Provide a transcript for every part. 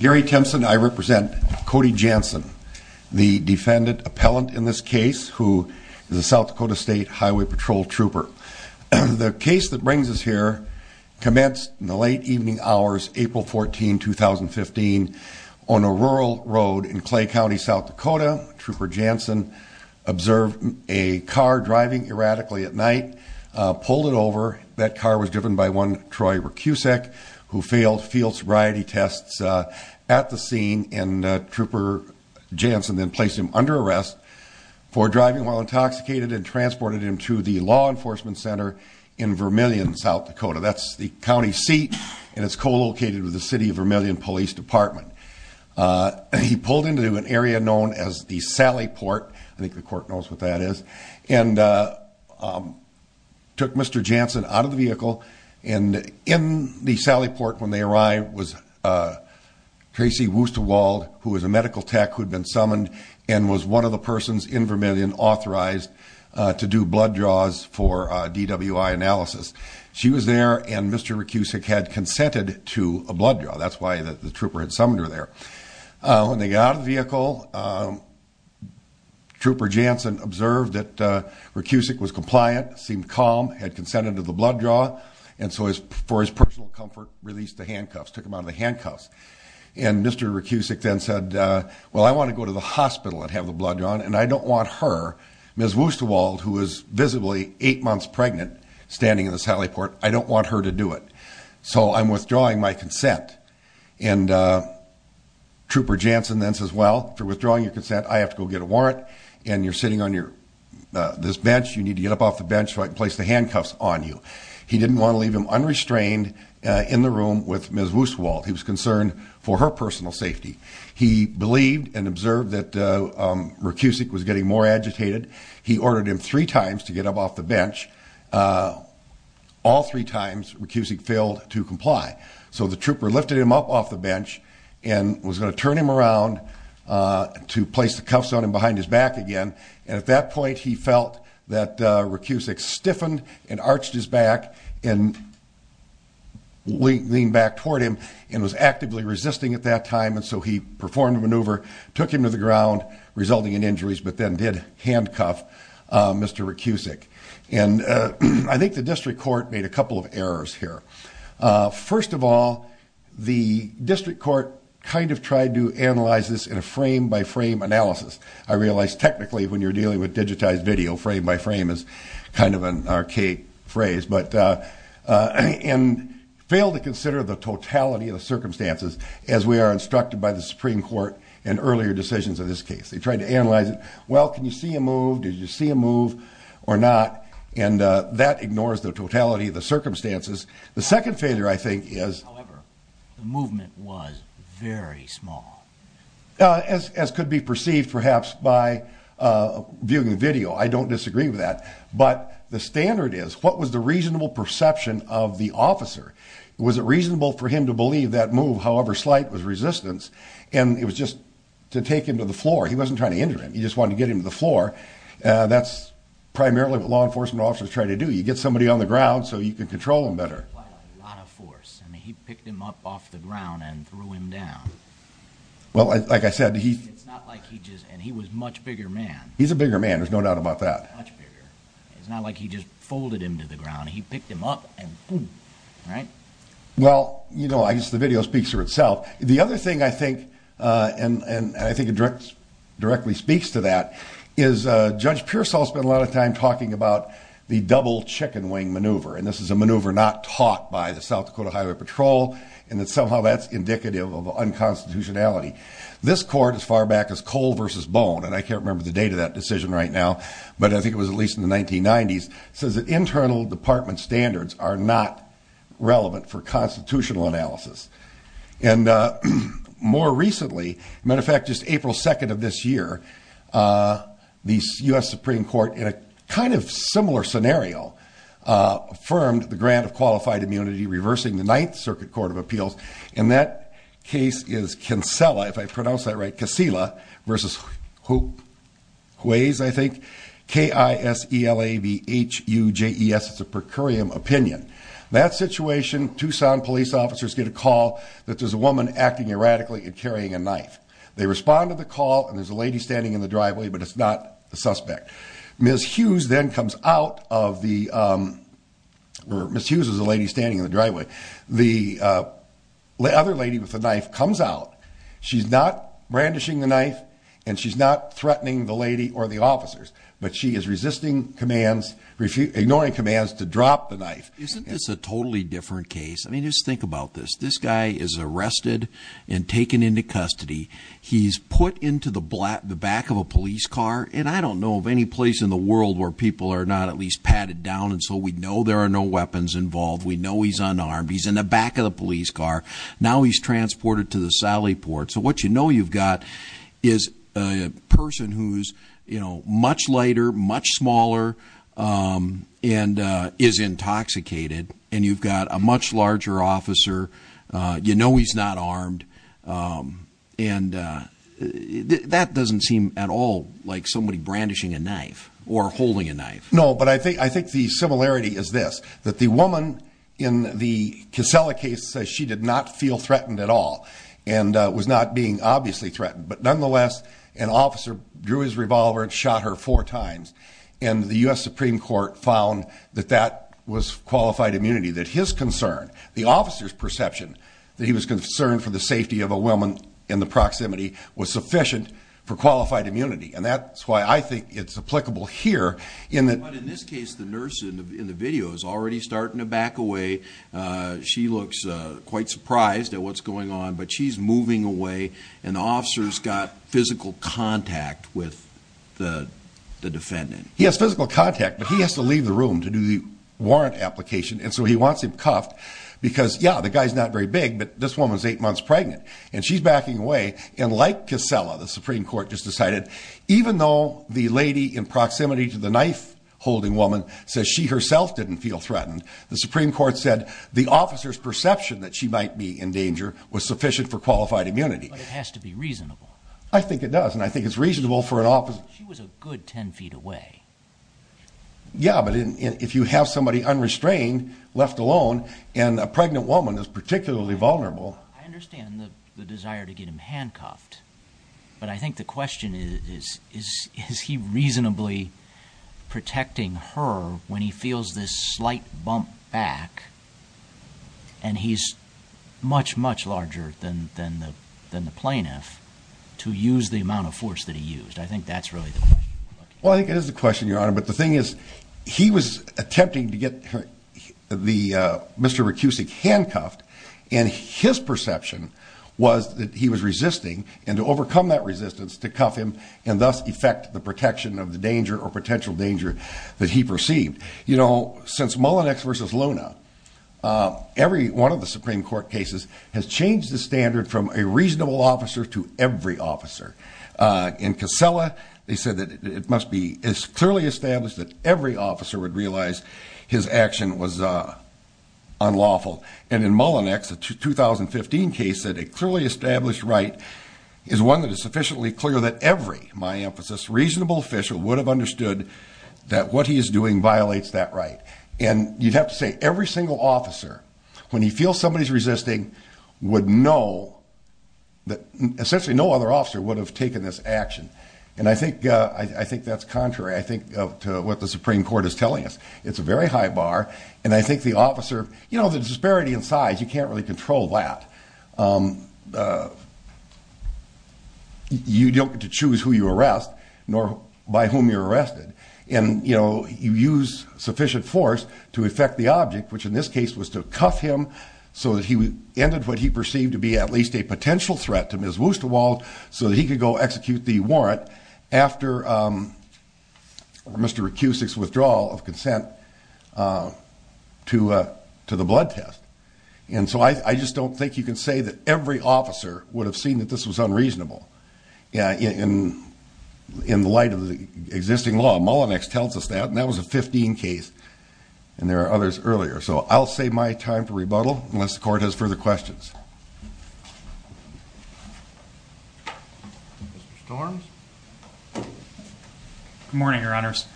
Gary Tempson I represent Cody Jansen the defendant appellant in this case who is a South Dakota State Highway Patrol trooper. The case that brings us here commenced in the late evening hours April 14 2015 on a rural road in Clay County South Dakota. Trooper Jansen observed a car driving erratically at night pulled it over that car was driven by one Troy Rokusek who failed field sobriety tests at the scene and trooper Jansen then placed him under arrest for driving while intoxicated and transported him to the law enforcement center in Vermilion South Dakota. That's the county seat and it's co-located with the city of Vermilion Police Department. He pulled into an area known as the Sally Port I think the court knows what that is and took Mr. Jansen out of the Tracy Wusterwald who was a medical tech who had been summoned and was one of the persons in Vermilion authorized to do blood draws for DWI analysis. She was there and Mr. Rokusek had consented to a blood draw that's why the trooper had summoned her there. When they got out of the vehicle trooper Jansen observed that Rokusek was compliant seemed calm had consented to the blood draw and so as for his personal comfort released the handcuffs took him out of the handcuffs and Mr. Rokusek then said well I want to go to the hospital and have the blood drawn and I don't want her Ms. Wusterwald who is visibly eight months pregnant standing in the Sally Port I don't want her to do it so I'm withdrawing my consent and trooper Jansen then says well for withdrawing your consent I have to go get a warrant and you're sitting on your this bench you need to get up off the bench so I can place the handcuffs on you. He didn't want to leave him unrestrained in the room with Ms. Wusterwald he was concerned for her personal safety he believed and observed that Rokusek was getting more agitated he ordered him three times to get up off the bench all three times Rokusek failed to comply so the trooper lifted him up off the bench and was going to turn him around to place the cuffs on him behind his back again and that point he felt that Rokusek stiffened and arched his back and leaned back toward him and was actively resisting at that time and so he performed a maneuver took him to the ground resulting in injuries but then did handcuff Mr. Rokusek and I think the district court made a couple of errors here first of all the district court kind of tried to analyze this in a frame by frame analysis I realize technically when you're dealing with digitized video frame by frame is kind of an archaic phrase but and failed to consider the totality of the circumstances as we are instructed by the Supreme Court and earlier decisions in this case they tried to analyze it well can you see a move did you see a move or not and that ignores the totality of the could be perceived perhaps by viewing the video I don't disagree with that but the standard is what was the reasonable perception of the officer was it reasonable for him to believe that move however slight was resistance and it was just to take him to the floor he wasn't trying to injure him he just wanted to get him to the floor that's primarily what law enforcement officers try to do you get somebody on the ground so you can control them better well like I said and he was much bigger man he's a bigger man there's no doubt about that it's not like he just folded him to the ground he picked him up and right well you know I guess the video speaks for itself the other thing I think and and I think it directs directly speaks to that is judge Pearsall spent a lot of time talking about the double chicken wing maneuver and this is a maneuver not taught by the South Dakota Highway Patrol and that somehow that's indicative of constitutionality this court as far back as coal versus bone and I can't remember the date of that decision right now but I think it was at least in the 1990s says that internal department standards are not relevant for constitutional analysis and more recently matter of fact just April 2nd of this year the US Supreme Court in a kind of similar scenario affirmed the grant of qualified immunity reversing the Ninth Circuit Court of Appeals in that case is Kinsella if I pronounce that right Casilla versus who weighs I think k-i-s-e-l-a-v-h-u-j-e-s it's a per curiam opinion that situation Tucson police officers get a call that there's a woman acting erratically and carrying a knife they respond to the call and there's a lady standing in the driveway but it's not the suspect miss Hughes then comes out of the or miss Hughes is lady standing in the driveway the other lady with the knife comes out she's not brandishing the knife and she's not threatening the lady or the officers but she is resisting commands refute ignoring commands to drop the knife isn't this a totally different case I mean just think about this this guy is arrested and taken into custody he's put into the black the back of a police car and I don't know of any place in the world where people are not at least involved we know he's unarmed he's in the back of the police car now he's transported to the Sally port so what you know you've got is a person who's you know much lighter much smaller and is intoxicated and you've got a much larger officer you know he's not armed and that doesn't seem at all like somebody brandishing a knife or holding a knife no but I think I think the similarity is this that the woman in the case she did not feel threatened at all and was not being obviously threatened but nonetheless an officer drew his revolver and shot her four times in the US Supreme Court found that that was qualified immunity that his concern the officers perception that he was concerned for the safety of a woman in the proximity was sufficient for qualified immunity and that's why I think it's applicable here in this case the nurse in the video is already starting to back away she looks quite surprised at what's going on but she's moving away and officers got physical contact with the defendant yes physical contact but he has to leave the room to do the warrant application and so he wants him cuffed because yeah the guy's not very big but this woman's eight months pregnant and she's backing away and like Casella the Supreme Court just decided even though the lady in says she herself didn't feel threatened the Supreme Court said the officer's perception that she might be in danger was sufficient for qualified immunity it has to be reasonable I think it does and I think it's reasonable for an office she was a good 10 feet away yeah but if you have somebody unrestrained left alone and a pregnant woman is particularly vulnerable I understand the desire to get him handcuffed but I think the question is is is he reasonably protecting her when he feels this slight bump back and he's much much larger than than the than the plaintiff to use the amount of force that he used I think that's really well I think it is the question your honor but the thing is he was attempting to get the mr. racusic handcuffed and his perception was that he was resisting and to overcome that resistance to cuff him and thus affect the protection of the danger or potential danger that he perceived you know since Mullinex versus Luna every one of the Supreme Court cases has changed the standard from a reasonable officer to every officer in Casella they said that it must be as clearly established that every officer would realize his action was unlawful and in Mullinex a 2015 case that a clearly established right is one that is sufficiently clear that every my reasonable official would have understood that what he is doing violates that right and you'd have to say every single officer when you feel somebody's resisting would know that essentially no other officer would have taken this action and I think I think that's contrary I think to what the Supreme Court is telling us it's a very high bar and I think the officer you know the disparity in size you can't really control that you don't get to by whom you're arrested and you know you use sufficient force to affect the object which in this case was to cuff him so that he ended what he perceived to be at least a potential threat to Ms. Wusterwald so he could go execute the warrant after Mr. Racusic's withdrawal of consent to to the blood test and so I just don't think you can say that every officer would have seen that this was of the existing law Mullinex tells us that and that was a 15 case and there are others earlier so I'll save my time for rebuttal unless the court has further questions morning your honors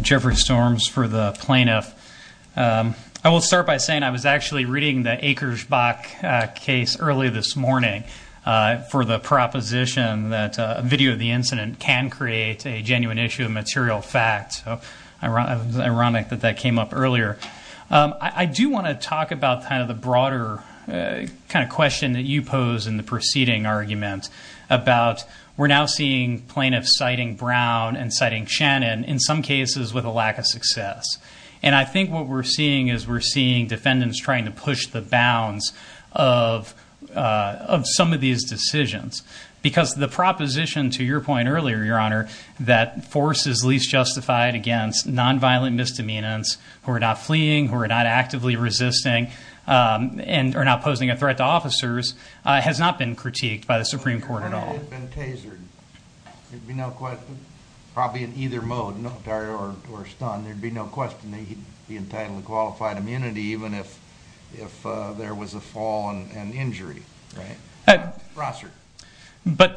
Jeffrey storms for the plaintiff I will start by saying I was actually reading the acres Bach case early this morning for the proposition that a video of the incident can create a genuine issue of material fact ironic that that came up earlier I do want to talk about kind of the broader kind of question that you pose in the preceding argument about we're now seeing plaintiffs citing Brown and citing Shannon in some cases with a lack of success and I think what we're seeing is we're seeing defendants trying to push the bounds of of some of these decisions because the proposition to your point earlier your honor that force is least justified against nonviolent misdemeanors who are not fleeing who are not actively resisting and are now posing a threat to officers has not been critiqued by the Supreme Court at all probably in either mode or stunned there'd be no question that he'd be there was a fall and injury but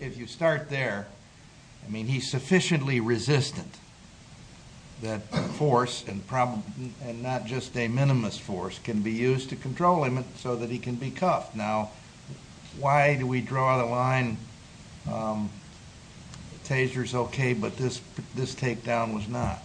if you start there I mean he's sufficiently resistant that force and problem and not just a minimalist force can be used to control him so that he can be cuffed now why do we draw the line tasers okay but this this takedown was not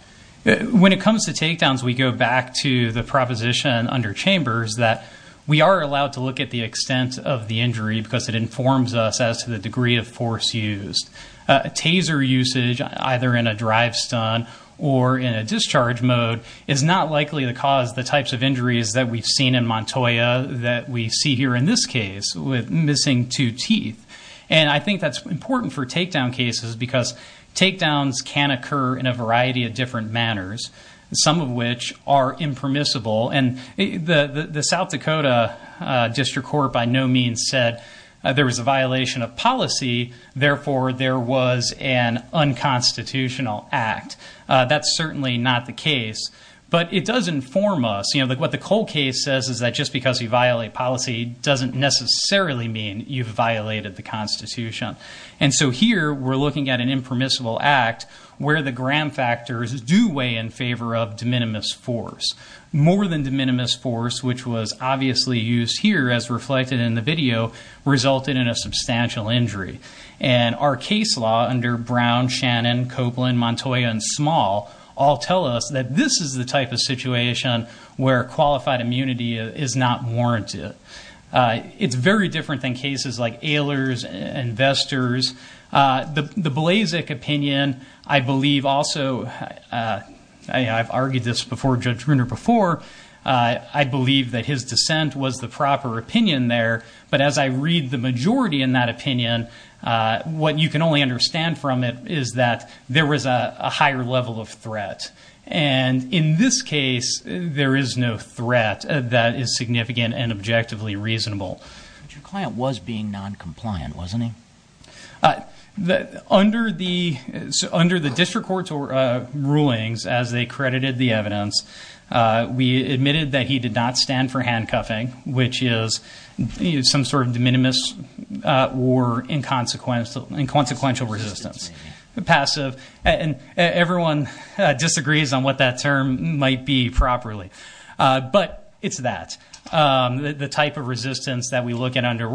when it comes to take downs we go back to the proposition under chambers that we are allowed to look at the extent of the injury because it informs us as to the degree of force used taser usage either in a drive stun or in a discharge mode is not likely to cause the types of injuries that we've seen in Montoya that we see here in this case with missing two teeth and I think that's important for takedown cases because takedowns can occur in a variety of different manners some of which are impermissible and the the South Dakota District Court by no means said there was a violation of policy therefore there was an unconstitutional act that's certainly not the case but it does inform us you know that what the Cole case says is that just because you violate policy doesn't necessarily mean you've violated the Constitution and so here we're looking at an impermissible act where the gram factors do weigh in favor of de minimis force more than de minimis force which was obviously used here as reflected in the video resulted in a substantial injury and our case law under Brown Shannon Copeland Montoya and small all tell us that this is the type of situation where qualified immunity is not warranted it's very different than cases like a lures investors the the Blazek opinion I believe also I've argued this before judge Bruner before I believe that his dissent was the proper opinion there but as I read the majority in that opinion what you can only understand from it is that there was a higher level of threat and in this case there is no threat that is significant and objectively reasonable your client was being non-compliant wasn't he that under the under the district courts or rulings as they credited the evidence we admitted that he did not stand for handcuffing which is some sort of de minimis war in consequence of inconsequential resistance the passive and everyone disagrees on what that term might be properly but it's that the type of resistance that we look at under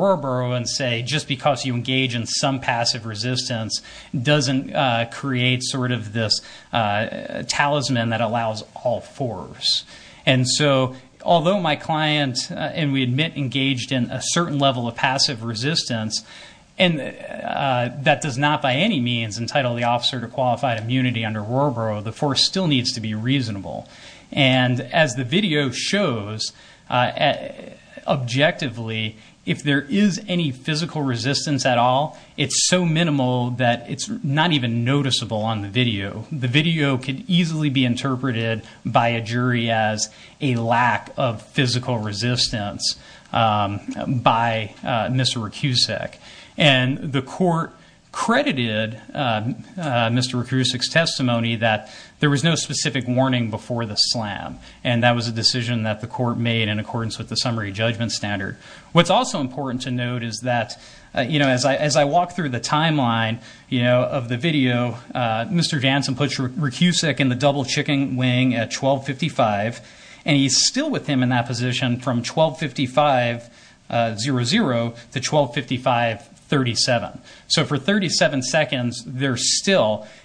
and say just because you engage in some passive resistance doesn't create sort of this talisman that allows all force and so although my client and we admit engaged in a certain level of passive resistance and that does not by any means entitle the officer to qualified immunity under war bro the force still and as the video shows objectively if there is any physical resistance at all it's so minimal that it's not even noticeable on the video the video could easily be interpreted by a jury as a lack of physical resistance by mr. testimony that there was no specific warning before the slam and that was a decision that the court made in accordance with the summary judgment standard what's also important to note is that you know as I as I walk through the timeline you know of the video mr. Jansen put your recuse second the double chicken wing at 1255 and he's still with him in that position from 1255 0 0 to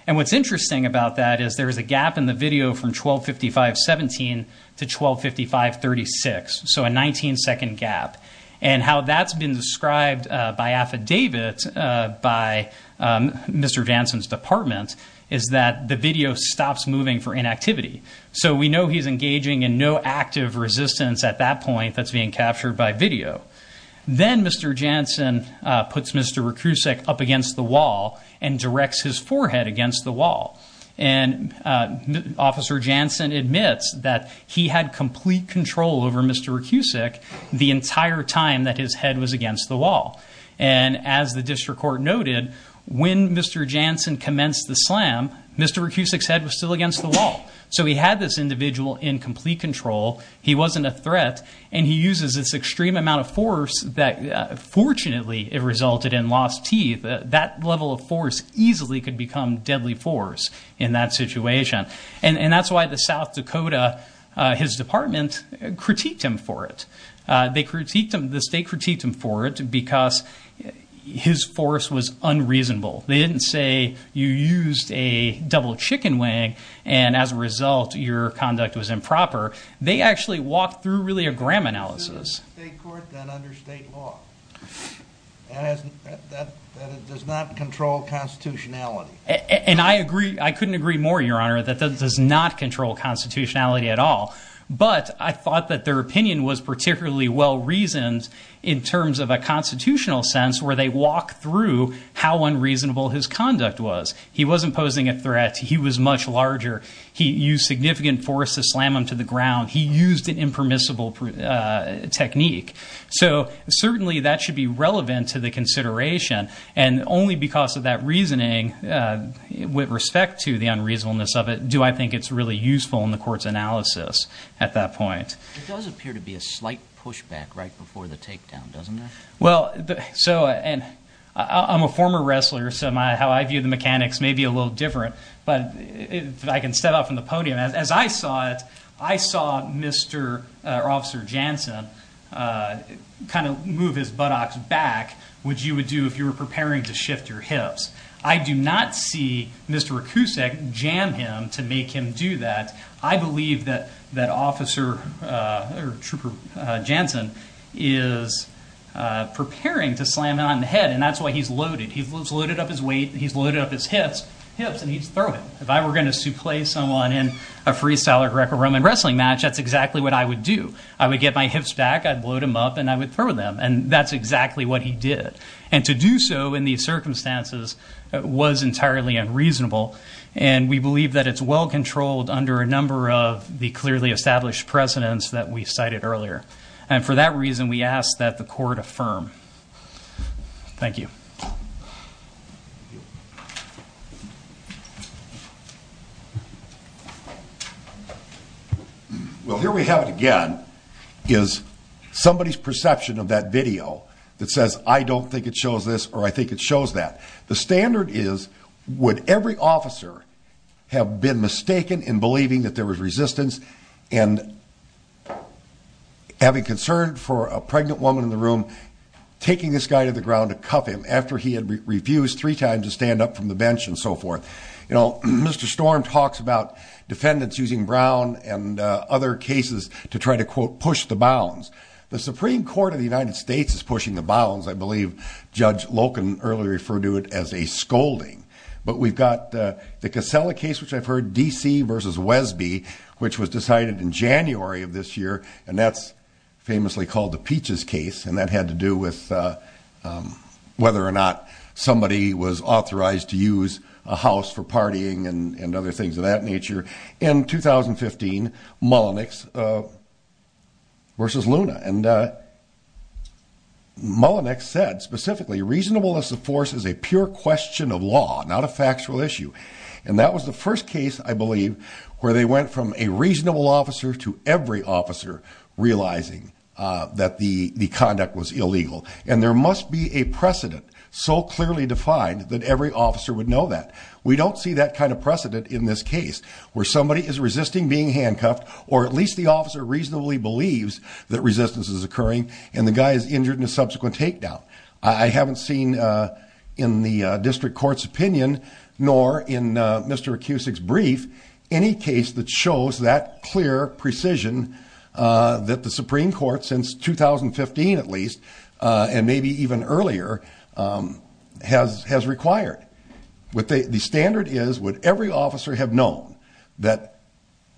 what's interesting about that is there is a gap in the video from 1255 17 to 1255 36 so a 19-second gap and how that's been described by affidavit by mr. Jansen's department is that the video stops moving for inactivity so we know he's engaging in no active resistance at that point that's being captured by video then mr. Jansen puts mr. recrucif up against the wall and officer Jansen admits that he had complete control over mr. recusic the entire time that his head was against the wall and as the district court noted when mr. Jansen commenced the slam mr. recusic said was still against the wall so he had this individual in complete control he wasn't a threat and he uses this extreme amount of force that fortunately it resulted in lost teeth that level of force easily could become deadly force in that situation and and that's why the South Dakota his department critiqued him for it they critiqued him the state critiqued him for it because his force was unreasonable they didn't say you used a double chicken wing and as a result your does not control constitutionality and I agree I couldn't agree more your honor that does not control constitutionality at all but I thought that their opinion was particularly well reasoned in terms of a constitutional sense where they walk through how unreasonable his conduct was he wasn't posing a threat he was much larger he used significant force to slam him to the ground he used an impermissible technique so certainly that should be relevant to the consideration and only because of that reasoning with respect to the unreasonableness of it do I think it's really useful in the courts analysis at that point it does appear to be a slight pushback right before the takedown doesn't well so and I'm a former wrestler so my how I view the mechanics may be a little different but if I can step out from the podium as I saw it I kind of move his buttocks back which you would do if you were preparing to shift your hips I do not see mr. Akusek jam him to make him do that I believe that that officer or trooper Jansen is preparing to slam it on the head and that's why he's loaded he's loaded up his weight he's loaded up his hips hips and he's throwing if I were going to play someone in a freestyler Greco-Roman wrestling match that's exactly what I would do I would get my hips back I'd load him up and I would throw them and that's exactly what he did and to do so in these circumstances was entirely unreasonable and we believe that it's well controlled under a number of the clearly established precedents that we cited earlier and for that reason we ask that the court affirm thank you you well here we have it again is somebody's perception of that video that says I don't think it shows this or I think it shows that the standard is would every officer have been mistaken in believing that there was resistance and having concerned for a pregnant woman in the room taking this guy to the ground to stand up from the bench and so forth you know mr. storm talks about defendants using Brown and other cases to try to quote push the bounds the Supreme Court of the United States is pushing the bounds I believe judge Loken earlier referred to it as a scolding but we've got the casella case which I've heard DC versus Wesby which was decided in January of this year and that's famously called the peaches case and that had to do with whether or not somebody was authorized to use a house for partying and and other things of that nature in 2015 Mullenix versus Luna and Mullenix said specifically reasonable as the force is a pure question of law not a factual issue and that was the first case I believe where they went from a reasonable officer to every officer realizing that the the conduct was illegal and there must be a defined that every officer would know that we don't see that kind of precedent in this case where somebody is resisting being handcuffed or at least the officer reasonably believes that resistance is occurring and the guy is injured in a subsequent takedown I haven't seen in the district court's opinion nor in mr. Acoustic's brief any case that shows that clear precision that the Supreme Court since 2015 at least and maybe even earlier has has required with the standard is would every officer have known that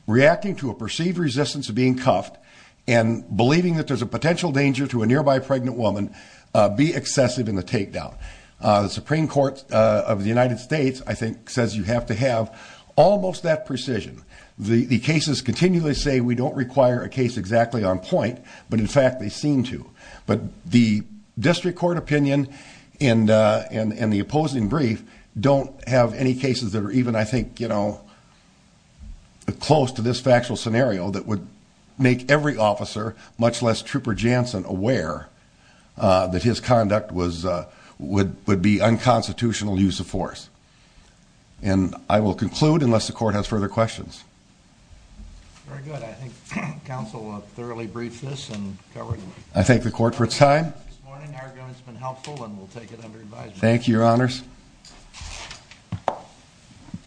reacting to a perceived resistance of being cuffed and believing that there's a potential danger to a nearby pregnant woman be excessive in the takedown the Supreme Court of the United States I think says you have to have almost that precision the the cases continually say we don't require a case exactly on point but in fact they seem to but the district court opinion and and and the opposing brief don't have any cases that are even I think you know close to this factual scenario that would make every officer much less trooper Jansen aware that his conduct was would would be unconstitutional use of force and I will conclude unless the very good I think council thoroughly briefed this and covered I think the court for time thank you your honors